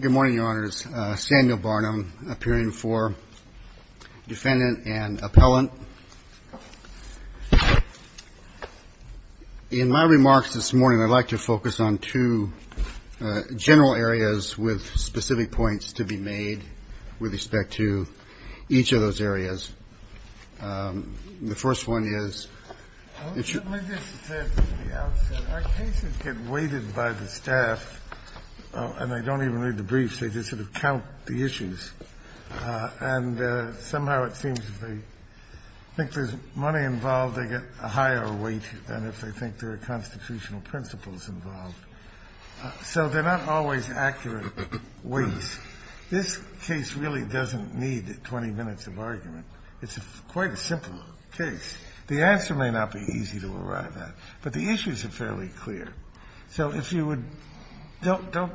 Good morning, Your Honors. Samuel Barnum, appearing for defendant and appellant. In my remarks this morning, I'd like to focus on two general areas with specific points to be made with respect to each of those areas. The first one is, it should be said that our cases get weighted by the staff, and I don't even read the briefs. They just sort of count the issues. And somehow it seems if they think there's money involved, they get a higher weight than if they think there are constitutional principles involved. So they're not always accurate weights. This case really doesn't need 20 minutes of argument. It's quite a simple case. The answer may not be easy to arrive at, but the issues are fairly clear. So if you would don't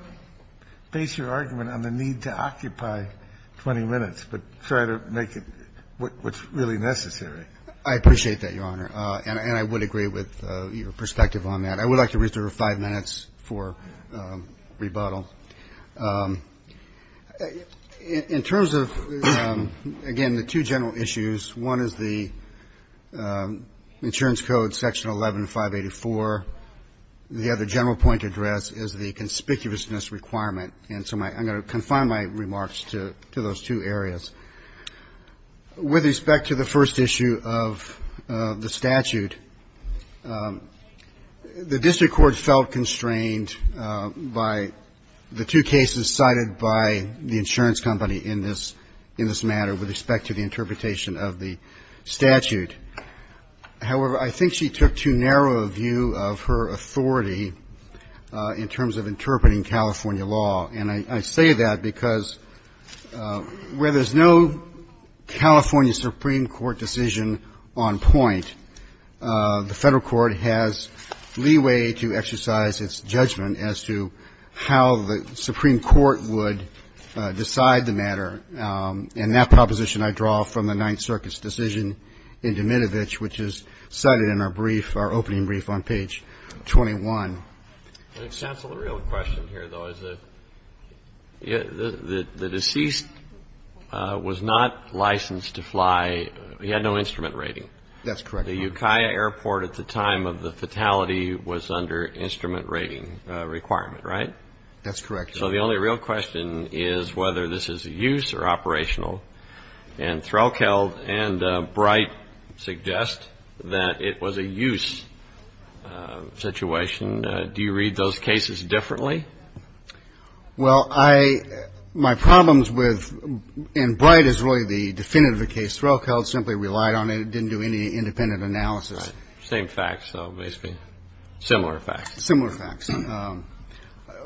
base your argument on the need to occupy 20 minutes, but try to make it what's really necessary. I appreciate that, Your Honor, and I would agree with your perspective on that. I would like to reserve 5 minutes for rebuttal. In terms of, again, the two general issues, one is the insurance code, section 11584. The other general point of address is the conspicuousness requirement, and so I'm going to confine my remarks to those two areas. With respect to the first issue of the statute, the district court felt constrained by the two cases cited by the insurance company in this matter with respect to the interpretation of the statute. However, I think she took too narrow a view of her authority in terms of interpreting California law, and I say that because where there's no California Supreme Court decision on point, the federal court has leeway to exercise its judgment as to how the Supreme Court would decide the matter. And that proposition I draw from the Ninth Circuit's decision in Dmitrovich, which is cited in our brief, our opening brief on page 21. The real question here, though, is that the deceased was not licensed to fly. He had no instrument rating. That's correct. The Ukiah Airport at the time of the fatality was under instrument rating requirement, right? That's correct. So the only real question is whether this is a use or operational, and Threlkeld and Bright suggest that it was a use situation. Do you read those cases differently? Well, I my problems with, and Bright is really the definitive case. Threlkeld simply relied on it and didn't do any independent analysis. Right. Same facts, though, basically. Similar facts. Similar facts. And then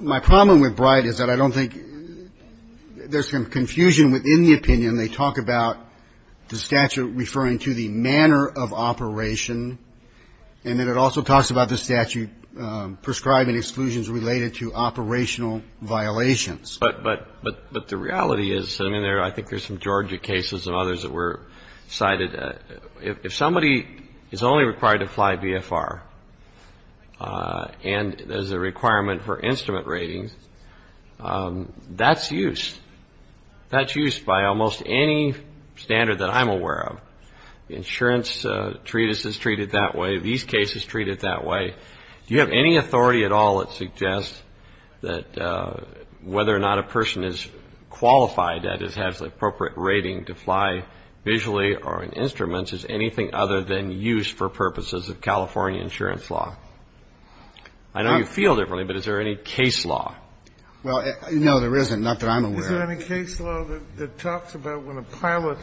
they talk about the statute referring to the manner of operation, and then it also talks about the statute prescribing exclusions related to operational violations. But the reality is, I mean, I think there's some Georgia cases and others that were cited. If somebody is only required to fly VFR and there's a requirement for instrument ratings, that's use. That's use by almost any standard that I'm aware of. Insurance treatises treated that way. These cases treated that way. Do you have any authority at all that suggests that whether or not a person is qualified, that is, has the appropriate rating to fly visually or in instruments, is anything other than use for purposes of California insurance law? I know you feel differently, but is there any case law? Well, no, there isn't. Not that I'm aware of. Is there any case law that talks about when a pilot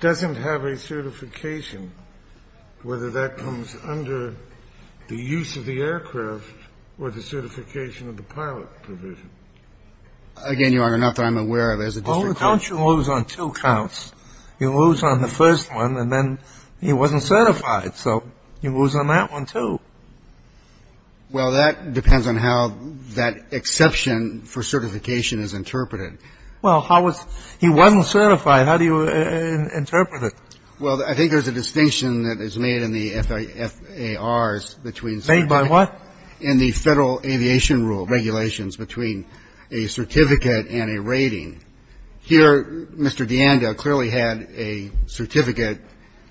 doesn't have a certification, whether that comes under the use of the aircraft or the certification of the pilot provision? Again, Your Honor, not that I'm aware of. There's a district court. Only counts you lose on two counts. You lose on the first one, and then he wasn't certified, so you lose on that one, too. Well, that depends on how that exception for certification is interpreted. Well, how was he wasn't certified. How do you interpret it? Well, I think there's a distinction that is made in the FAARs between certifications. Made by what? In the Federal Aviation Rule regulations between a certificate and a rating. Here, Mr. DeAnda clearly had a certificate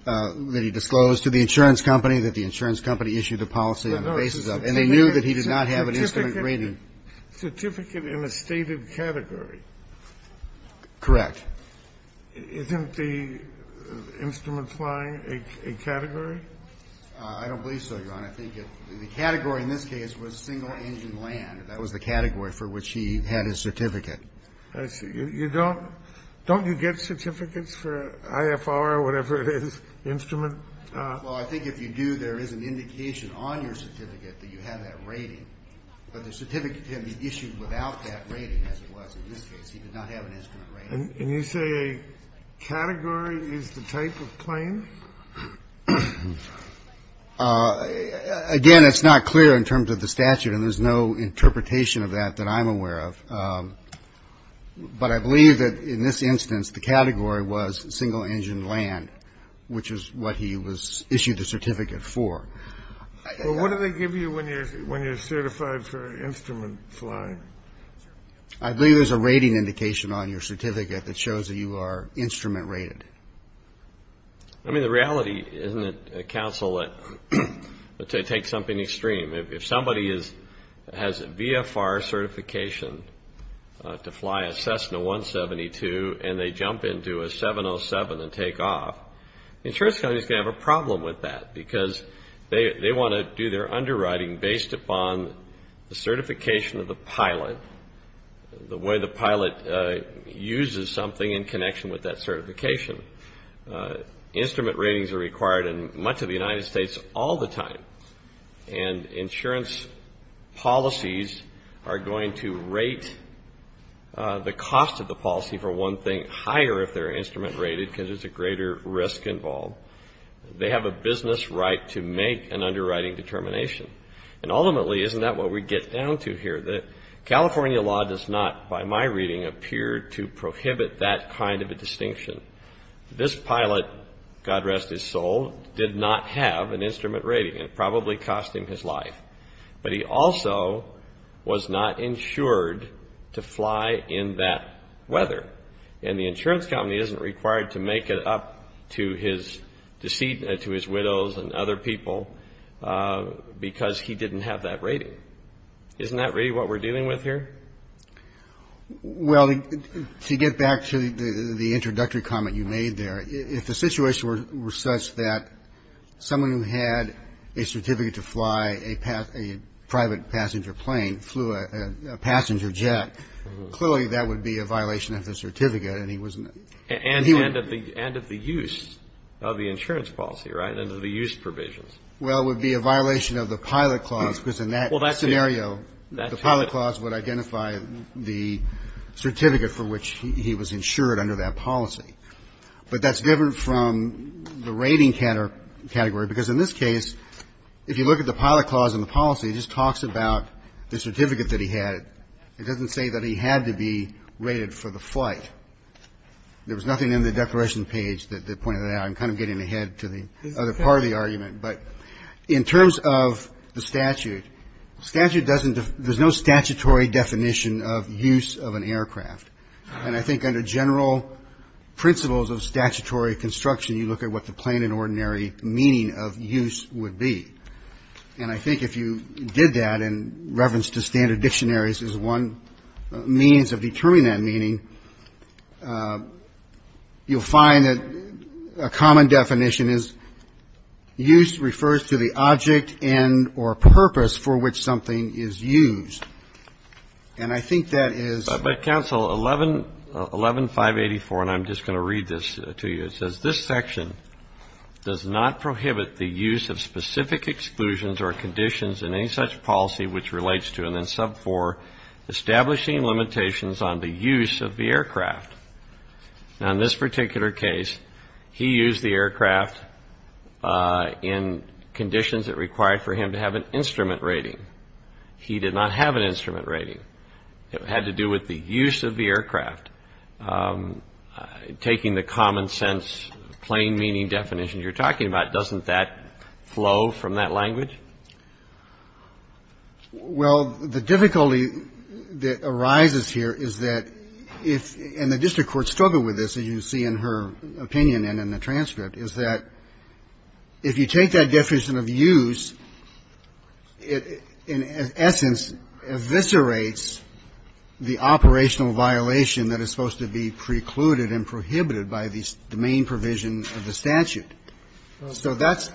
that he disclosed to the insurance company that the insurance company issued a policy on the basis of. And they knew that he did not have an instrument rating. Certificate in a stated category. Correct. Isn't the instrument flying a category? I don't believe so, Your Honor. I think the category in this case was single-engine land. That was the category for which he had his certificate. Don't you get certificates for IFR or whatever it is, instrument? Well, I think if you do, there is an indication on your certificate that you have that rating. But the certificate can be issued without that rating, as it was in this case. He did not have an instrument rating. And you say a category is the type of claim? Again, it's not clear in terms of the statute, and there's no interpretation of that that I'm aware of. But I believe that in this instance, the category was single-engine land, which is what he issued the certificate for. Well, what do they give you when you're certified for instrument flying? I believe there's a rating indication on your certificate that shows that you are instrument rated. I mean, the reality, isn't it, counsel, to take something extreme? If somebody has a VFR certification to fly a Cessna 172 and they jump into a 707 and take off, the insurance company is going to have a problem with that, because they want to do their underwriting based upon the certification of the pilot, the way the pilot uses something in connection with that certification. Instrument ratings are required in much of the United States all the time. And insurance policies are going to rate the cost of the policy, for one thing, higher if they're instrument rated because there's a greater risk involved. They have a business right to make an underwriting determination. And ultimately, isn't that what we get down to here? The California law does not, by my reading, appear to prohibit that kind of a distinction. This pilot, God rest his soul, did not have an instrument rating. It probably cost him his life. But he also was not insured to fly in that weather. And the insurance company isn't required to make it up to his widows and other people because he didn't have that rating. Isn't that really what we're dealing with here? Well, to get back to the introductory comment you made there, if the situation were such that someone who had a certificate to fly a private passenger plane flew a passenger jet, clearly that would be a violation of the certificate. And he was not. And of the use of the insurance policy, right, and of the use provisions. Well, it would be a violation of the pilot clause because in that scenario, the pilot clause would identify the certificate for which he was insured under that policy. But that's different from the rating category because in this case, if you look at the pilot clause in the policy, it just talks about the certificate that he had. It doesn't say that he had to be rated for the flight. There was nothing in the declaration page that pointed that out. I'm kind of getting ahead to the other part of the argument. But in terms of the statute, statute doesn't – there's no statutory definition of use of an aircraft. And I think under general principles of statutory construction, you look at what the plain and ordinary meaning of use would be. And I think if you did that in reverence to standard dictionaries as one means of determining that meaning, you'll find that a common definition is use refers to the object and or purpose for which something is used. And I think that is – But, counsel, 11584, and I'm just going to read this to you, it says, this section does not prohibit the use of specific exclusions or conditions in any such policy which relates to and then sub 4, establishing limitations on the use of the aircraft. Now, in this particular case, he used the aircraft in conditions that required for him to have an instrument rating. He did not have an instrument rating. It had to do with the use of the aircraft. Taking the common sense plain meaning definition you're talking about, doesn't that flow from that language? Well, the difficulty that arises here is that if – and the district court struggled with this, as you see in her opinion and in the transcript – is that if you take that definition of use, it in essence eviscerates the operational violation that is supposed to be precluded and prohibited by the main provision of the statute. So that's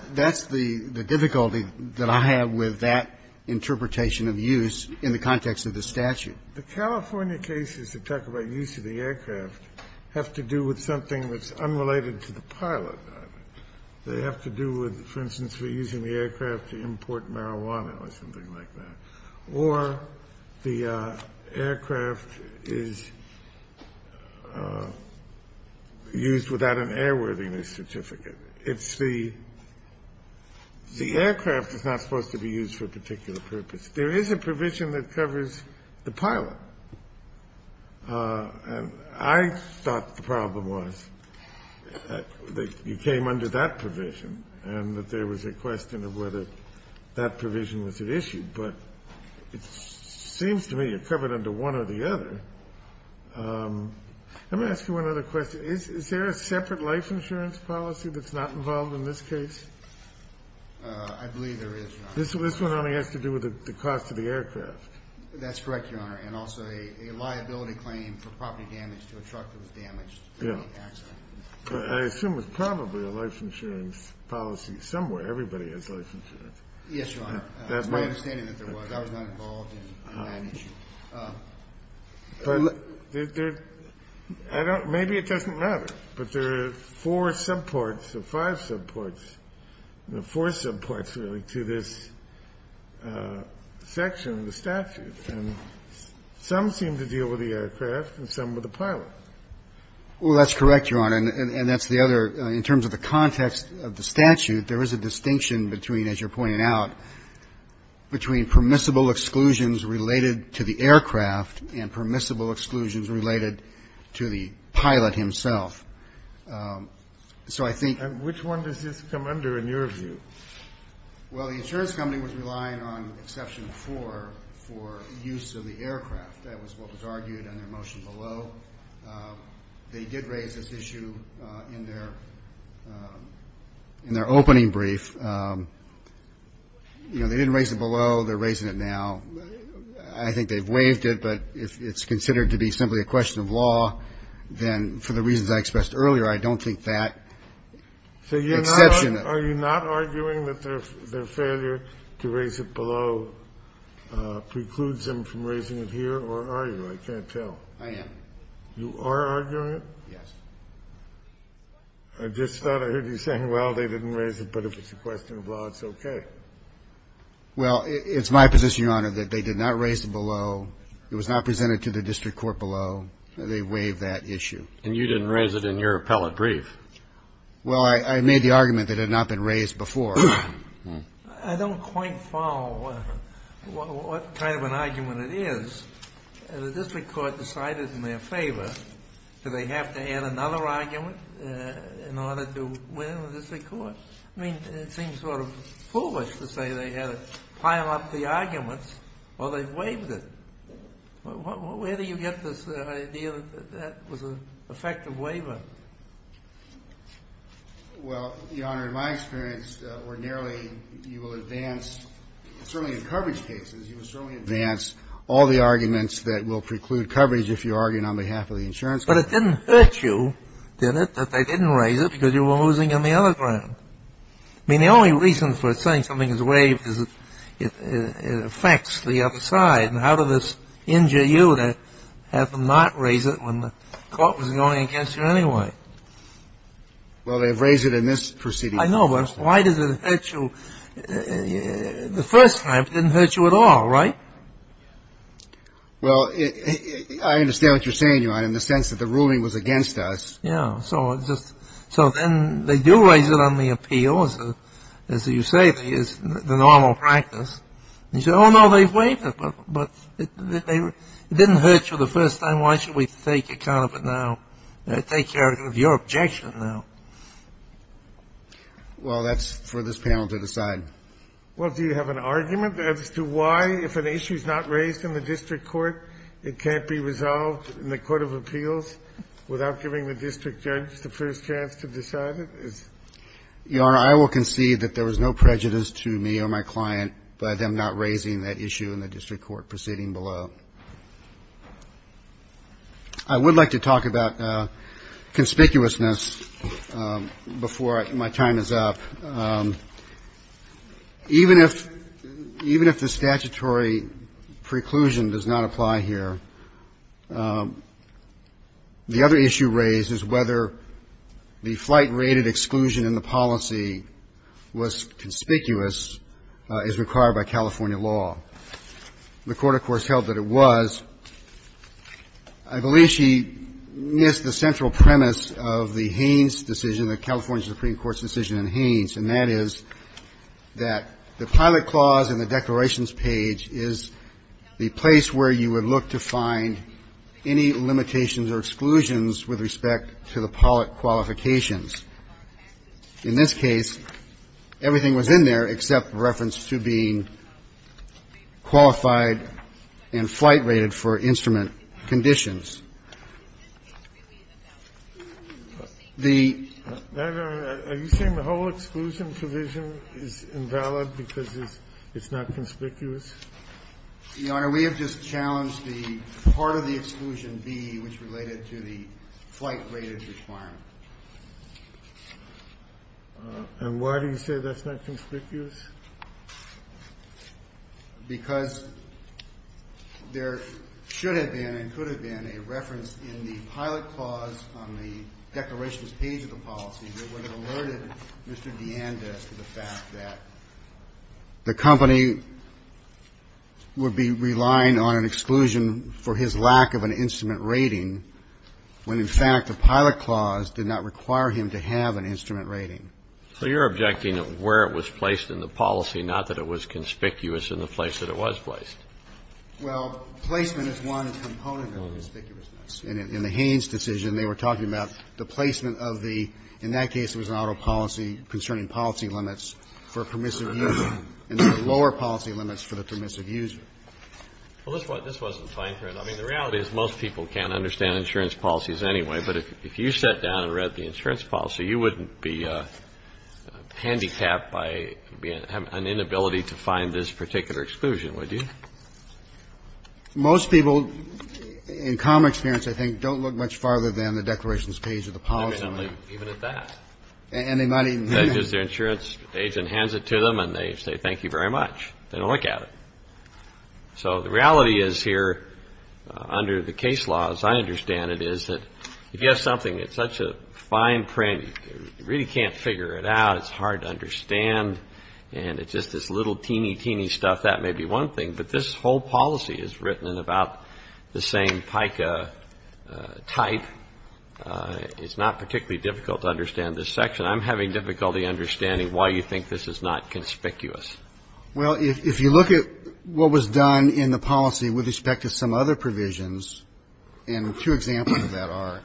the difficulty that I have with that interpretation of use in the context of the statute. The California cases that talk about use of the aircraft have to do with something that's unrelated to the pilot. They have to do with, for instance, for using the aircraft to import marijuana or something like that. Or the aircraft is used without an airworthiness certificate. It's the – the aircraft is not supposed to be used for a particular purpose. There is a provision that covers the pilot. And I thought the problem was that you came under that provision and that there was a question of whether that provision was at issue. But it seems to me you're covered under one or the other. Let me ask you one other question. Is there a separate life insurance policy that's not involved in this case? I believe there is, Your Honor. This one only has to do with the cost of the aircraft. That's correct, Your Honor. And also a liability claim for property damage to a truck that was damaged in the accident. I assume it's probably a life insurance policy somewhere. Everybody has life insurance. Yes, Your Honor. It's my understanding that there was. I was not involved in that issue. But there – I don't – maybe it doesn't matter. But there are four subparts or five subparts – four subparts, really, to this section of the statute. And some seem to deal with the aircraft and some with the pilot. Well, that's correct, Your Honor. And that's the other. In terms of the context of the statute, there is a distinction between, as you're pointing out, between permissible exclusions related to the aircraft and permissible exclusions related to the pilot himself. So I think – And which one does this come under in your view? Well, the insurance company was relying on exception four for use of the aircraft. That was what was argued in their motion below. They did raise this issue in their opening brief. You know, they didn't raise it below. They're raising it now. I think they've waived it. But if it's considered to be simply a question of law, then for the reasons I expressed earlier, I don't think that exception. Are you not arguing that their failure to raise it below precludes them from raising it here, or are you? I can't tell. I am. You are arguing it? Yes. I just thought I heard you saying, well, they didn't raise it, but if it's a question of law, it's okay. Well, it's my position, Your Honor, that they did not raise it below. It was not presented to the district court below. They waived that issue. And you didn't raise it in your appellate brief. Well, I made the argument that it had not been raised before. I don't quite follow what kind of an argument it is. The district court decided in their favor. Do they have to add another argument in order to win the district court? I mean, it seems sort of foolish to say they had to pile up the arguments or they waived it. Where do you get this idea that that was an effective waiver? Well, Your Honor, in my experience, ordinarily you will advance, certainly in coverage cases, you will certainly advance all the arguments that will preclude coverage if you are arguing on behalf of the insurance company. But it didn't hurt you, did it, that they didn't raise it because you were losing on the other ground? I mean, the only reason for saying something is waived is it affects the other side. And how does this injure you to have them not raise it when the court was going against you anyway? Well, they've raised it in this proceeding. I know, but why does it hurt you? The first time it didn't hurt you at all, right? Well, I understand what you're saying, Your Honor, in the sense that the ruling was against us. Yeah. So then they do raise it on the appeal, as you say, the normal practice. And you say, oh, no, they've waived it, but it didn't hurt you the first time. Why should we take account of it now and take care of your objection now? Well, that's for this panel to decide. Well, do you have an argument as to why, if an issue is not raised in the district court, it can't be resolved in the court of appeals without giving the district judge the first chance to decide it? Your Honor, I will concede that there was no prejudice to me or my client by them not raising that issue in the district court proceeding below. I would like to talk about conspicuousness before my time is up. Even if the statutory preclusion does not apply here, the other issue raised is whether the flight-rated exclusion in the policy was conspicuous as required by California law. The Court, of course, held that it was. I believe she missed the central premise of the Haynes decision, the California Supreme Court's decision in Haynes, and that is that the pilot clause in the declarations page is the place where you would look to find any limitations or exclusions with respect to the pilot qualifications. In this case, everything was in there except reference to being qualified and flight-rated for instrument conditions. The ---- Are you saying the whole exclusion provision is invalid because it's not conspicuous? Your Honor, we have just challenged the part of the exclusion B which related to the flight-rated requirement. And why do you say that's not conspicuous? Because there should have been and could have been a reference in the pilot clause on the declarations page of the policy that would have alerted Mr. DeAnda to the fact that the company would be relying on an exclusion for his lack of an instrument rating when, in fact, the pilot clause did not require him to have an instrument rating. So you're objecting to where it was placed in the policy, not that it was conspicuous in the place that it was placed? Well, placement is one component of conspicuousness. In the Haynes decision, they were talking about the placement of the ---- in that case, it was an autopolicy concerning policy limits for permissive use and the lower policy limits for the permissive use. Well, this wasn't fine-tuned. I mean, the reality is most people can't understand insurance policies anyway. But if you sat down and read the insurance policy, you wouldn't be handicapped by an inability to find this particular exclusion, would you? Most people, in common experience, I think, don't look much farther than the declarations page of the policy. They don't look even at that. And they might even do that. They just, their insurance agent hands it to them and they say, thank you very much. They don't look at it. So the reality is here under the case law, as I understand it, is that if you have something that's such a fine print, you really can't figure it out. It's hard to understand. And it's just this little teeny, teeny stuff. That may be one thing. But this whole policy is written in about the same PICA type. It's not particularly difficult to understand this section. I'm having difficulty understanding why you think this is not conspicuous. Well, if you look at what was done in the policy with respect to some other provisions, and two examples of that are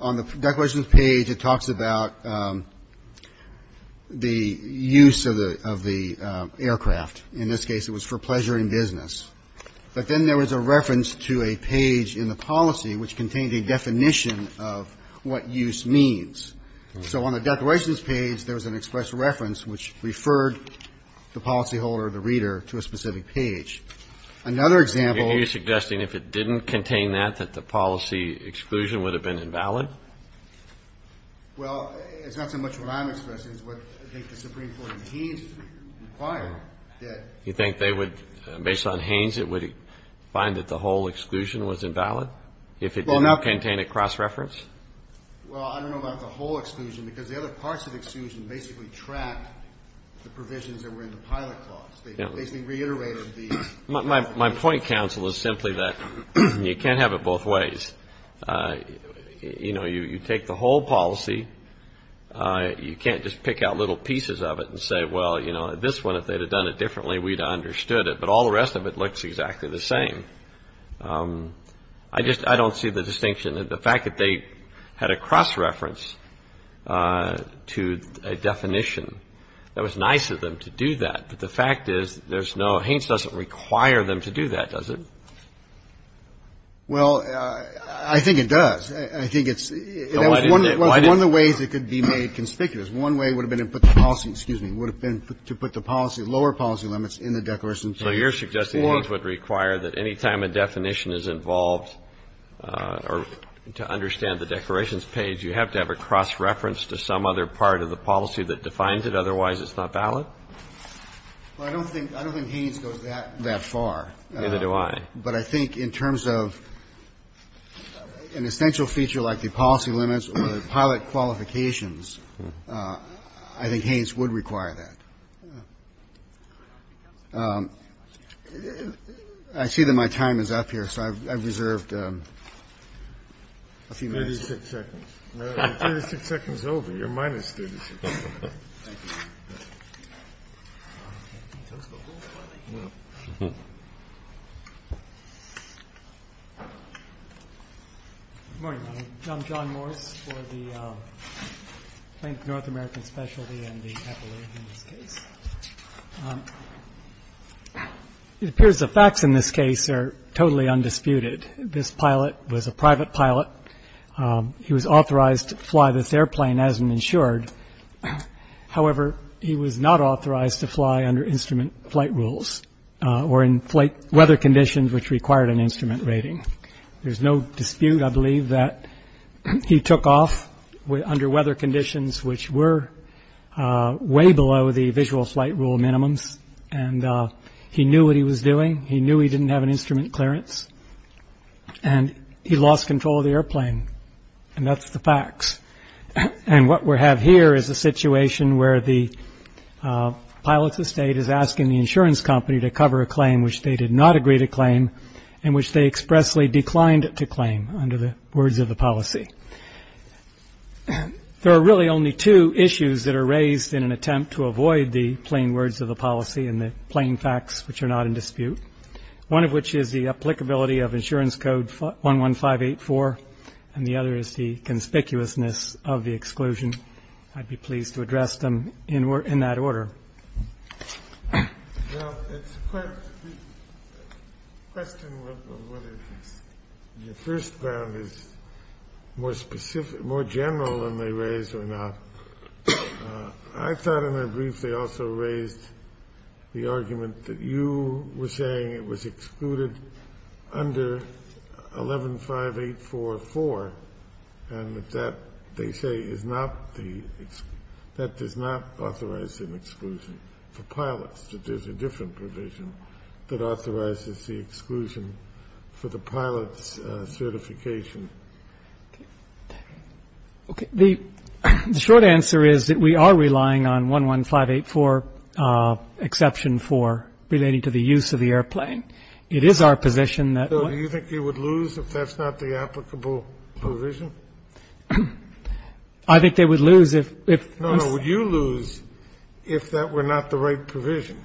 on the declarations page, it talks about the use of the aircraft. In this case, it was for pleasure and business. But then there was a reference to a page in the policy which contained a definition of what use means. So on the declarations page, there was an express reference which referred the policyholder, the reader, to a specific page. Another example. Are you suggesting if it didn't contain that, that the policy exclusion would have been invalid? Well, it's not so much what I'm expressing as what I think the Supreme Court in Haynes required that. You think they would, based on Haynes, it would find that the whole exclusion was invalid if it didn't contain a cross-reference? Well, I don't know about the whole exclusion, because the other parts of the exclusion basically track the provisions that were in the pilot clause. They basically reiterated the... My point, counsel, is simply that you can't have it both ways. You know, you take the whole policy, you can't just pick out little pieces of it and say, well, you know, this one, if they'd have done it differently, we'd have understood it. But all the rest of it looks exactly the same. I just, I don't see the distinction. The fact that they had a cross-reference to a definition, that was nice of them to do that. But the fact is there's no – Haynes doesn't require them to do that, does it? Well, I think it does. I think it's – Why didn't they? It was one of the ways it could be made conspicuous. One way would have been to put the policy, excuse me, would have been to put the policy, lower policy limits in the declaration. So you're suggesting Haynes would require that any time a definition is involved or to understand the declarations page, you have to have a cross-reference to some other part of the policy that defines it, otherwise it's not valid? Well, I don't think – I don't think Haynes goes that far. Neither do I. But I think in terms of an essential feature like the policy limits or the pilot qualifications, I think Haynes would require that. I see that my time is up here, so I've reserved a few minutes. Thirty-six seconds. Thirty-six seconds over. You're minus thirty-six. Thank you. Good morning. I'm John Morris for the Planet of North America Specialty and the Epilogue in this case. It appears the facts in this case are totally undisputed. This pilot was a private pilot. He was authorized to fly this airplane as an insured. However, he was not authorized to fly under instrument flight rules or in flight weather conditions which required an instrument rating. There's no dispute, I believe, that he took off under weather conditions which were way below the visual flight rule minimums. And he knew what he was doing. He knew he didn't have an instrument clearance. And he lost control of the airplane. And that's the facts. And what we have here is a situation where the pilot's estate is asking the insurance company to cover a claim in which they did not agree to claim and which they expressly declined to claim under the words of the policy. There are really only two issues that are raised in an attempt to avoid the plain words of the policy and the plain facts which are not in dispute, one of which is the applicability of Insurance Code 11584, and the other is the conspicuousness of the exclusion. I'd be pleased to address them in that order. Well, it's a question of whether the first round is more specific, more general than they raised or not. I thought in their brief they also raised the argument that you were saying it was excluded under 115844, and that that, they say, is not the ‑‑ that does not authorize an exclusion for pilots, that there's a different provision that authorizes the exclusion for the pilot's certification. Okay. The short answer is that we are relying on 11584 exception 4 relating to the use of the airplane. It is our position that ‑‑ So do you think they would lose if that's not the applicable provision? I think they would lose if ‑‑ No, no. Would you lose if that were not the right provision,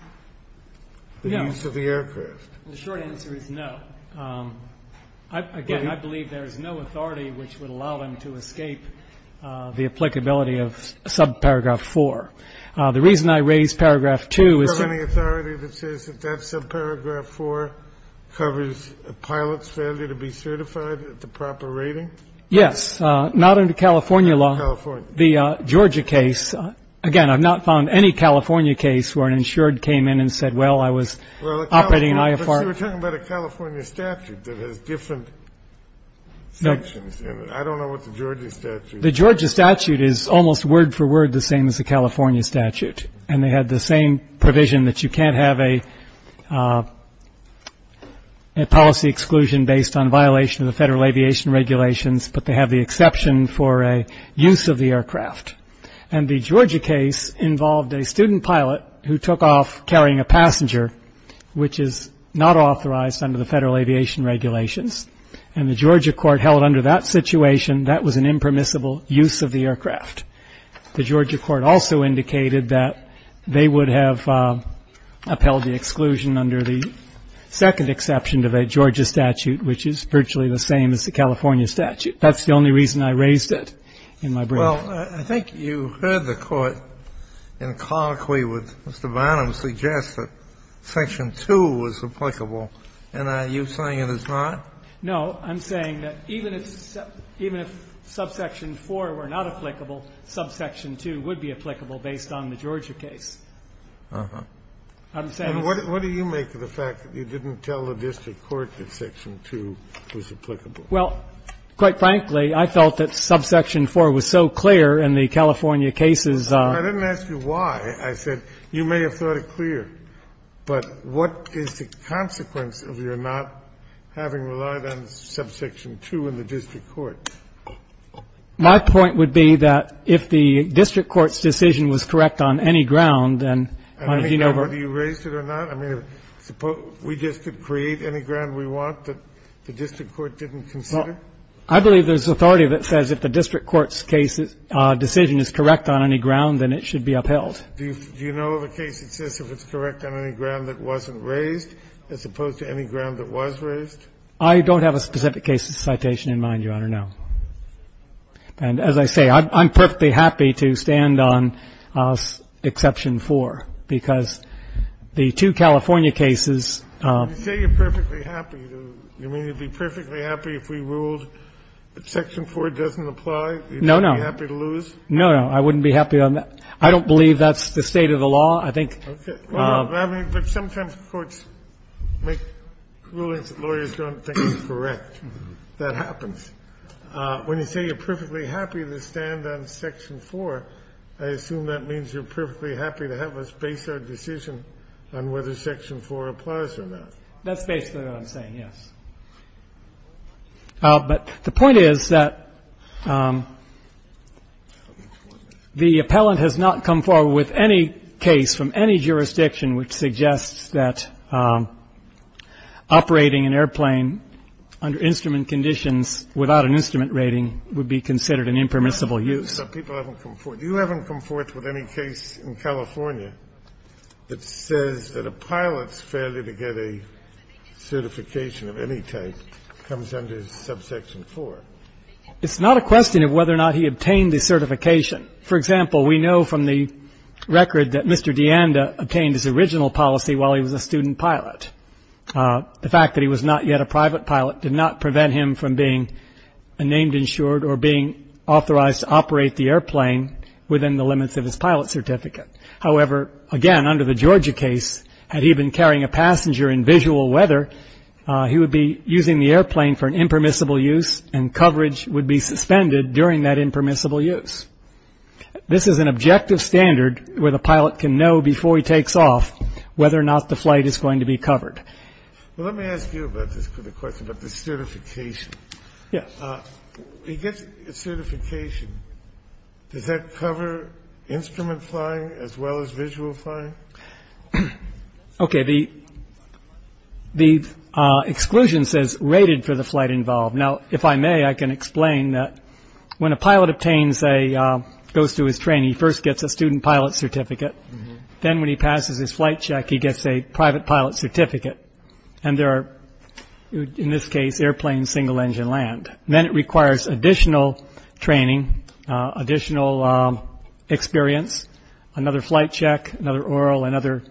the use of the aircraft? The short answer is no. Again, I believe there is no authority which would allow them to escape the applicability of subparagraph 4. The reason I raised paragraph 2 is ‑‑ Is it that subparagraph 4 covers a pilot's failure to be certified at the proper rating? Yes. Not under California law. The Georgia case, again, I've not found any California case where an insured came in and said, well, I was operating an IFR. But you were talking about a California statute that has different sections in it. I don't know what the Georgia statute is. The Georgia statute is almost word for word the same as the California statute, and they had the same provision that you can't have a policy exclusion based on violation of the Federal Aviation Regulations, but they have the exception for a use of the aircraft. And the Georgia case involved a student pilot who took off carrying a passenger, which is not authorized under the Federal Aviation Regulations. And the Georgia court held under that situation that was an impermissible use of the aircraft. The Georgia court also indicated that they would have upheld the exclusion under the second exception to the Georgia statute, which is virtually the same as the California statute. That's the only reason I raised it in my brief. Well, I think you heard the Court in colloquy with Mr. Bonham suggest that section 2 was applicable, and are you saying it is not? No. I'm saying that even if subsection 4 were not applicable, subsection 2 would be applicable based on the Georgia case. I'm saying it's not. And what do you make of the fact that you didn't tell the district court that section 2 was applicable? Well, quite frankly, I felt that subsection 4 was so clear in the California cases. I didn't ask you why. I said you may have thought it clear. But what is the consequence of your not having relied on subsection 2 in the district court? My point would be that if the district court's decision was correct on any ground, then, as you know, we're going to have to consider it. And whether you raised it or not? I mean, we just could create any ground we want that the district court didn't consider? Well, I believe there's authority that says if the district court's decision is correct on any ground, then it should be upheld. Do you know of a case that says if it's correct on any ground that wasn't raised as opposed to any ground that was raised? I don't have a specific case of citation in mind, Your Honor, no. And as I say, I'm perfectly happy to stand on exception 4 because the two California cases. You say you're perfectly happy. You mean you'd be perfectly happy if we ruled section 4 doesn't apply? No, no. You'd be happy to lose? No, no. I wouldn't be happy on that. I don't believe that's the state of the law. I think — Okay. Well, I mean, but sometimes courts make rulings that lawyers don't think is correct. That happens. When you say you're perfectly happy to stand on section 4, I assume that means you're perfectly happy to have us base our decision on whether section 4 applies or not. That's basically what I'm saying, yes. But the point is that the appellant has not come forward with any case from any jurisdiction which suggests that operating an airplane under instrument conditions without an instrument rating would be considered an impermissible use. But people haven't come forth. You haven't come forth with any case in California that says that a pilot's failure to get a certification of any type comes under subsection 4. It's not a question of whether or not he obtained the certification. For example, we know from the record that Mr. DeAnda obtained his original policy while he was a student pilot. The fact that he was not yet a private pilot did not prevent him from being named insured or being authorized to operate the airplane within the limits of his pilot certificate. However, again, under the Georgia case, had he been carrying a passenger in visual weather, he would be using the airplane for an impermissible use and coverage would be suspended during that impermissible use. This is an objective standard where the pilot can know before he takes off whether or not the flight is going to be covered. Well, let me ask you about this for the question of the certification. Yes. He gets a certification. Does that cover instrument flying as well as visual flying? Okay. The the exclusion says rated for the flight involved. Now, if I may, I can explain that when a pilot obtains a goes to his training, first gets a student pilot certificate. Then when he passes his flight check, he gets a private pilot certificate. And there are, in this case, airplanes, single engine land. Then it requires additional training, additional experience, another flight check, another oral and other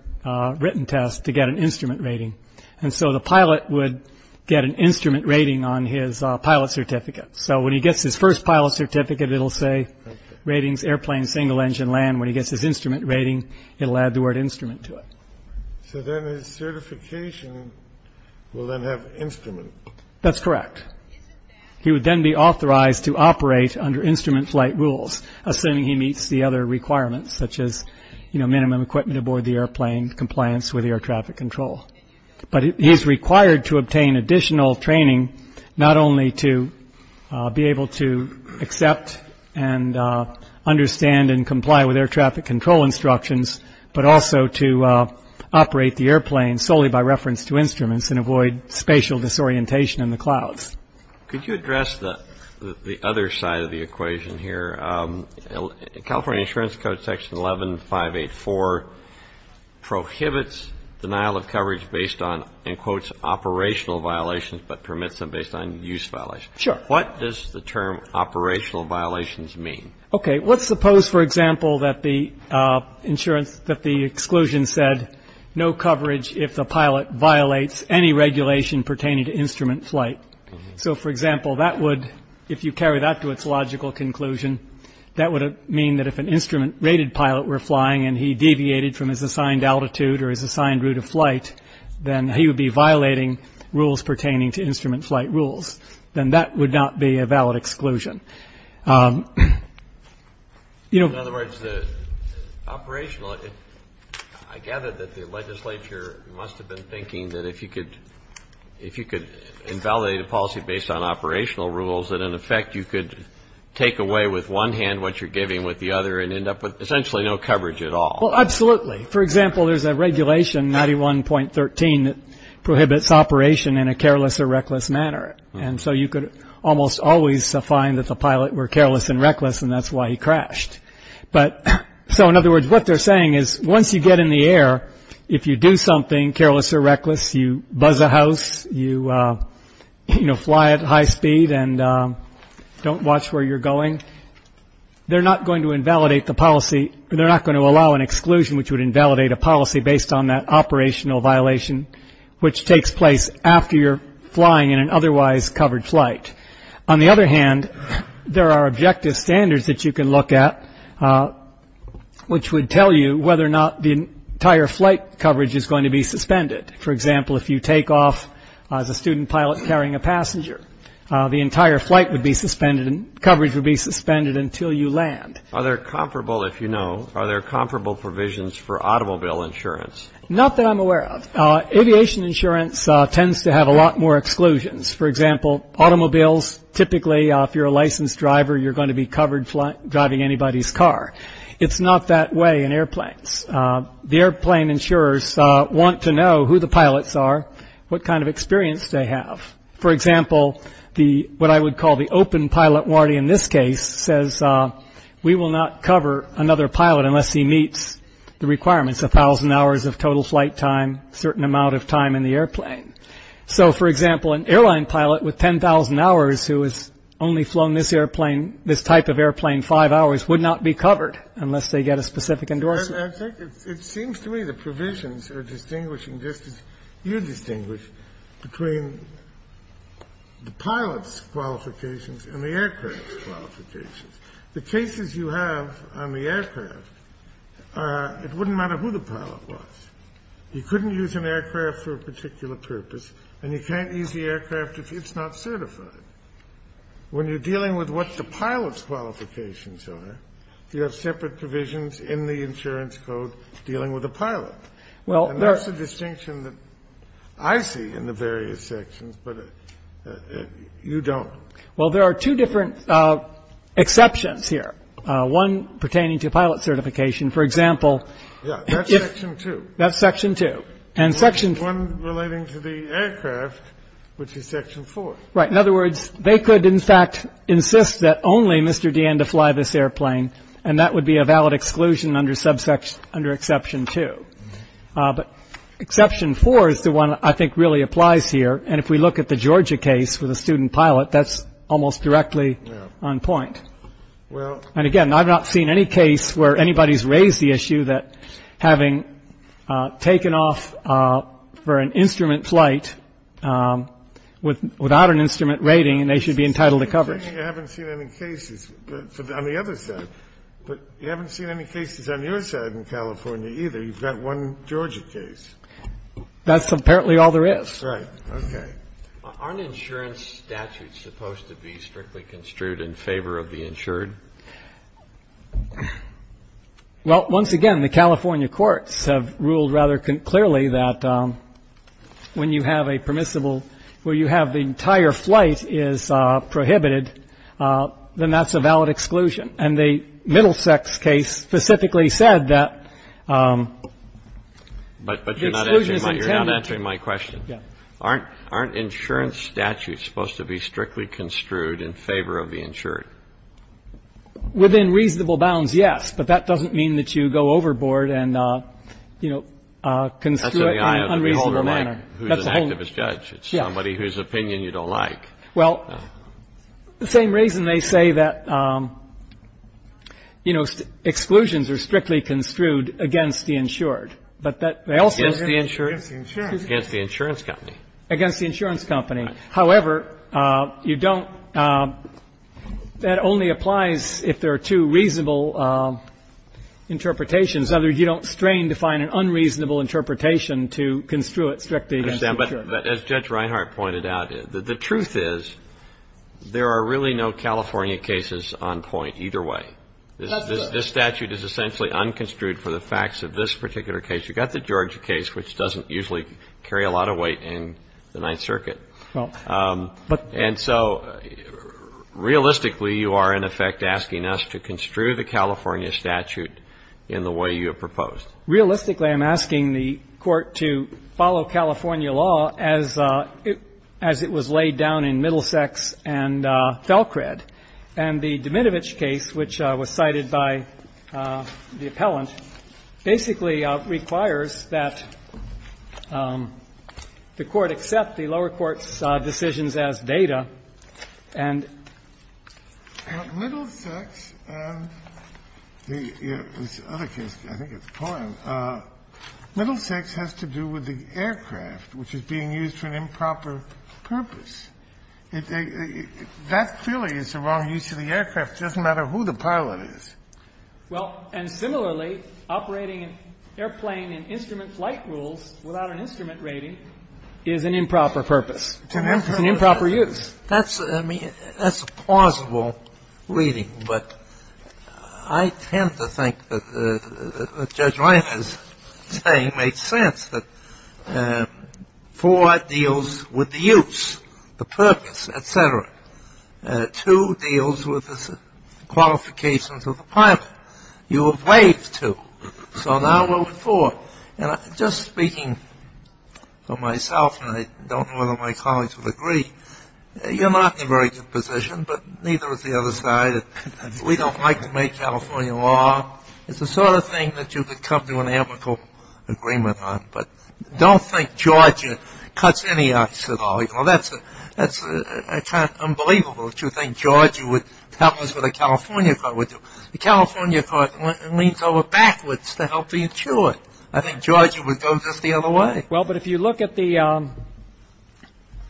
written test to get an instrument rating. And so the pilot would get an instrument rating on his pilot certificate. So when he gets his first pilot certificate, it'll say ratings, airplane, single engine land. When he gets his instrument rating, it'll add the word instrument to it. So then his certification will then have instrument. That's correct. He would then be authorized to operate under instrument flight rules, assuming he meets the other requirements such as minimum equipment aboard the airplane, compliance with air traffic control. But he is required to obtain additional training not only to be able to accept and understand and comply with air traffic control instructions, but also to operate the airplane solely by reference to instruments and avoid spatial disorientation in the clouds. Could you address the other side of the equation here? California Insurance Code, Section 11584, prohibits denial of coverage based on, in quotes, operational violations, but permits them based on use violations. Sure. What does the term operational violations mean? Okay. Let's suppose, for example, that the exclusion said no coverage if the pilot violates any regulation pertaining to instrument flight. So, for example, that would, if you carry that to its logical conclusion, that would mean that if an instrument rated pilot were flying and he deviated from his assigned altitude or his assigned route of flight, then he would be violating rules pertaining to instrument flight rules. Then that would not be a valid exclusion. In other words, operational, I gather that the legislature must have been thinking that if you could invalidate a policy based on operational rules, that in effect you could take away with one hand what you're giving with the other and end up with essentially no coverage at all. Well, absolutely. For example, there's a regulation, 91.13, that prohibits operation in a careless or reckless manner. And so you could almost always find that the pilot were careless and reckless and that's why he crashed. So, in other words, what they're saying is once you get in the air, if you do something careless or reckless, you buzz a house, you fly at high speed and don't watch where you're going, they're not going to allow an exclusion which would invalidate a policy based on that operational violation, which takes place after you're flying in an otherwise covered flight. On the other hand, there are objective standards that you can look at, which would tell you whether or not the entire flight coverage is going to be suspended. For example, if you take off as a student pilot carrying a passenger, the entire flight would be suspended and coverage would be suspended until you land. Are there comparable, if you know, are there comparable provisions for automobile insurance? Not that I'm aware of. Aviation insurance tends to have a lot more exclusions. For example, automobiles, typically if you're a licensed driver, you're going to be covered driving anybody's car. It's not that way in airplanes. The airplane insurers want to know who the pilots are, what kind of experience they have. For example, what I would call the open pilot warranty in this case says we will not cover another pilot unless he meets the requirements, 1,000 hours of total flight time, certain amount of time in the airplane. So, for example, an airline pilot with 10,000 hours who has only flown this airplane, this type of airplane five hours, would not be covered unless they get a specific endorsement. It seems to me the provisions are distinguishing, just as you distinguish, between the pilot's qualifications and the aircraft's qualifications. The cases you have on the aircraft, it wouldn't matter who the pilot was. You couldn't use an aircraft for a particular purpose, and you can't use the aircraft if it's not certified. When you're dealing with what the pilot's qualifications are, you have separate provisions in the insurance code dealing with the pilot. And that's the distinction that I see in the various sections, but you don't. Well, there are two different exceptions here. One pertaining to pilot certification, for example. Yeah, that's Section 2. That's Section 2. And one relating to the aircraft, which is Section 4. Right. In other words, they could, in fact, insist that only Mr. Deanne to fly this airplane, and that would be a valid exclusion under Exception 2. But Exception 4 is the one I think really applies here. And if we look at the Georgia case with a student pilot, that's almost directly on point. And, again, I've not seen any case where anybody's raised the issue that having taken off for an instrument flight without an instrument rating, they should be entitled to coverage. You haven't seen any cases on the other side. But you haven't seen any cases on your side in California either. You've got one Georgia case. That's apparently all there is. Right. Okay. Aren't insurance statutes supposed to be strictly construed in favor of the insured? Well, once again, the California courts have ruled rather clearly that when you have a permissible where you have the entire flight is prohibited, then that's a valid exclusion. And the Middlesex case specifically said that the exclusion is intended to be. But you're not answering my question. Yeah. Aren't insurance statutes supposed to be strictly construed in favor of the insured? Within reasonable bounds, yes. But that doesn't mean that you go overboard and, you know, construe it in an unreasonable manner. Who's an activist judge? It's somebody whose opinion you don't like. Well, the same reason they say that, you know, exclusions are strictly construed against the insured. But they also. Against the insurance company. Against the insurance company. However, you don't. That only applies if there are two reasonable interpretations. In other words, you don't strain to find an unreasonable interpretation to construe it strictly against the insured. But as Judge Reinhart pointed out, the truth is there are really no California cases on point either way. That's true. This statute is essentially unconstrued for the facts of this particular case. You've got the Georgia case, which doesn't usually carry a lot of weight in the Ninth Circuit. Well, but. And so realistically, you are, in effect, asking us to construe the California statute in the way you have proposed. Realistically, I'm asking the Court to follow California law as it was laid down in Middlesex and Falcred. And the Demidovich case, which was cited by the appellant, basically requires that the Court accept the lower court's decisions as data and. Middlesex has to do with the aircraft, which is being used for an improper purpose. That clearly is the wrong use of the aircraft. It doesn't matter who the pilot is. Well, and similarly, operating an airplane in instrument flight rules without an instrument rating is an improper purpose. It's an improper use. That's, I mean, that's a plausible reading. But I tend to think that what Judge Ryan is saying makes sense, that four deals with the use, the purpose, et cetera. Two deals with the qualifications of the pilot. You have waived two. So now we're with four. And just speaking for myself, and I don't know whether my colleagues would agree, you're not in a very good position, but neither is the other side. We don't like to make California law. It's the sort of thing that you could come to an amicable agreement on. But don't think Georgia cuts any ice at all. You know, that's kind of unbelievable that you think Georgia would tell us what a California court would do. A California court leans over backwards to help the insured. I think Georgia would go just the other way. Well, but if you look at the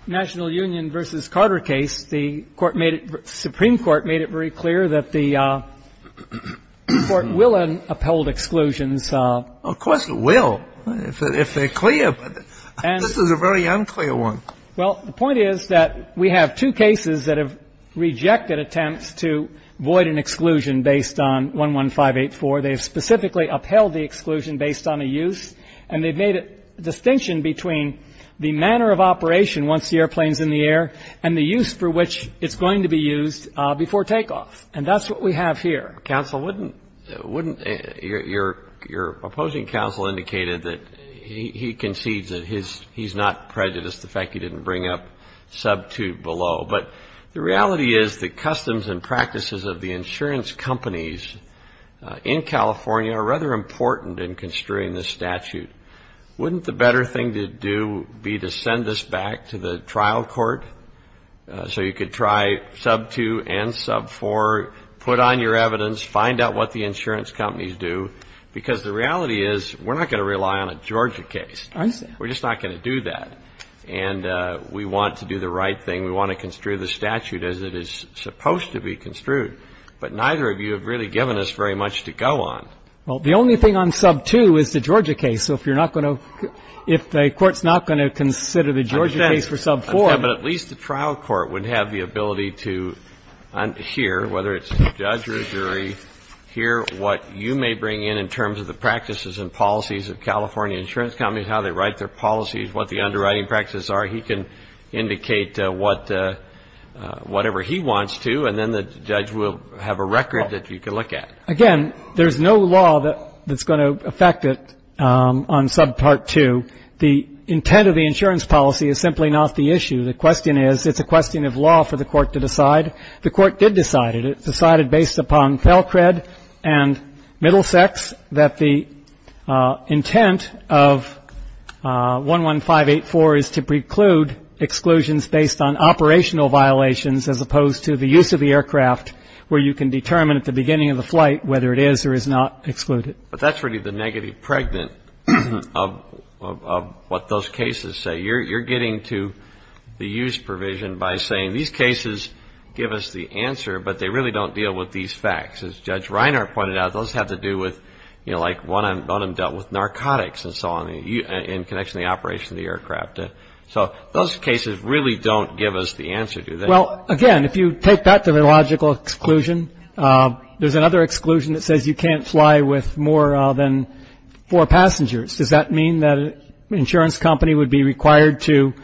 National Union v. Carter case, the Supreme Court made it very clear that the court will uphold exclusions. Of course it will, if they're clear. This is a very unclear one. Well, the point is that we have two cases that have rejected attempts to void an exclusion based on 11584. They have specifically upheld the exclusion based on a use, and they've made a distinction between the manner of operation once the airplane's in the air and the use for which it's going to be used before takeoff. And that's what we have here. Counsel, wouldn't your opposing counsel indicate that he concedes that he's not prejudiced, the fact he didn't bring up sub 2 below. But the reality is that customs and practices of the insurance companies in California are rather important in construing this statute. Wouldn't the better thing to do be to send this back to the trial court so you could try sub 2 and sub 4, put on your evidence, find out what the insurance companies do? Because the reality is we're not going to rely on a Georgia case. We're just not going to do that. And we want to do the right thing. We want to construe the statute as it is supposed to be construed. But neither of you have really given us very much to go on. Well, the only thing on sub 2 is the Georgia case. So if you're not going to ‑‑ if the Court's not going to consider the Georgia case for sub 4. I understand. But at least the trial court would have the ability to hear, whether it's a judge or a jury, hear what you may bring in in terms of the practices and policies of California insurance companies, how they write their policies, what the underwriting practices are. He can indicate whatever he wants to, and then the judge will have a record that you can look at. Again, there's no law that's going to affect it on sub part 2. The intent of the insurance policy is simply not the issue. The question is it's a question of law for the Court to decide. The Court did decide it. It was decided based upon Felcred and Middlesex that the intent of 11584 is to preclude exclusions based on operational violations, as opposed to the use of the aircraft, where you can determine at the beginning of the flight whether it is or is not excluded. But that's really the negative pregnant of what those cases say. You're getting to the use provision by saying these cases give us the answer, but they really don't deal with these facts. As Judge Reiner pointed out, those have to do with, you know, like one of them dealt with narcotics and so on in connection to the operation of the aircraft. So those cases really don't give us the answer, do they? Well, again, if you take that to the logical exclusion, there's another exclusion that says you can't fly with more than four passengers. Does that mean that an insurance company would be required to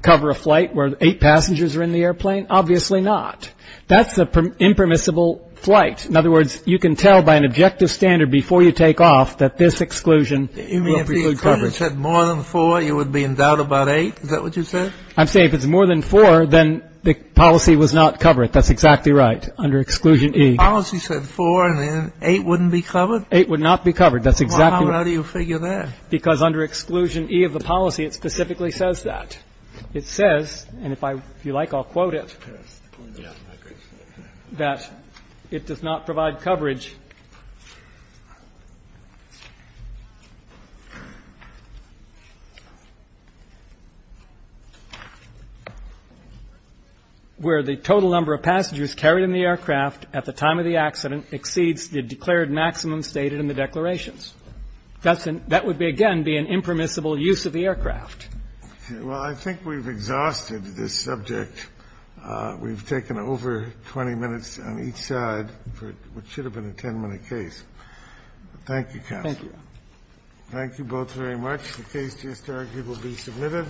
cover a flight where eight passengers are in the airplane? Obviously not. That's an impermissible flight. In other words, you can tell by an objective standard before you take off that this exclusion will preclude coverage. You mean if the insurance said more than four, you would be in doubt about eight? Is that what you said? I'm saying if it's more than four, then the policy was not covered. That's exactly right, under Exclusion E. The policy said four, and then eight wouldn't be covered? Eight would not be covered. That's exactly right. Well, how do you figure that? Because under Exclusion E of the policy, it specifically says that. It says, and if you like, I'll quote it, that it does not provide coverage where the total number of passengers carried in the aircraft at the time of the accident exceeds the declared maximum stated in the declarations. That would, again, be an impermissible use of the aircraft. Well, I think we've exhausted this subject. We've taken over 20 minutes on each side for what should have been a 10-minute case. Thank you, counsel. Thank you. Thank you both very much. The case just argued will be submitted.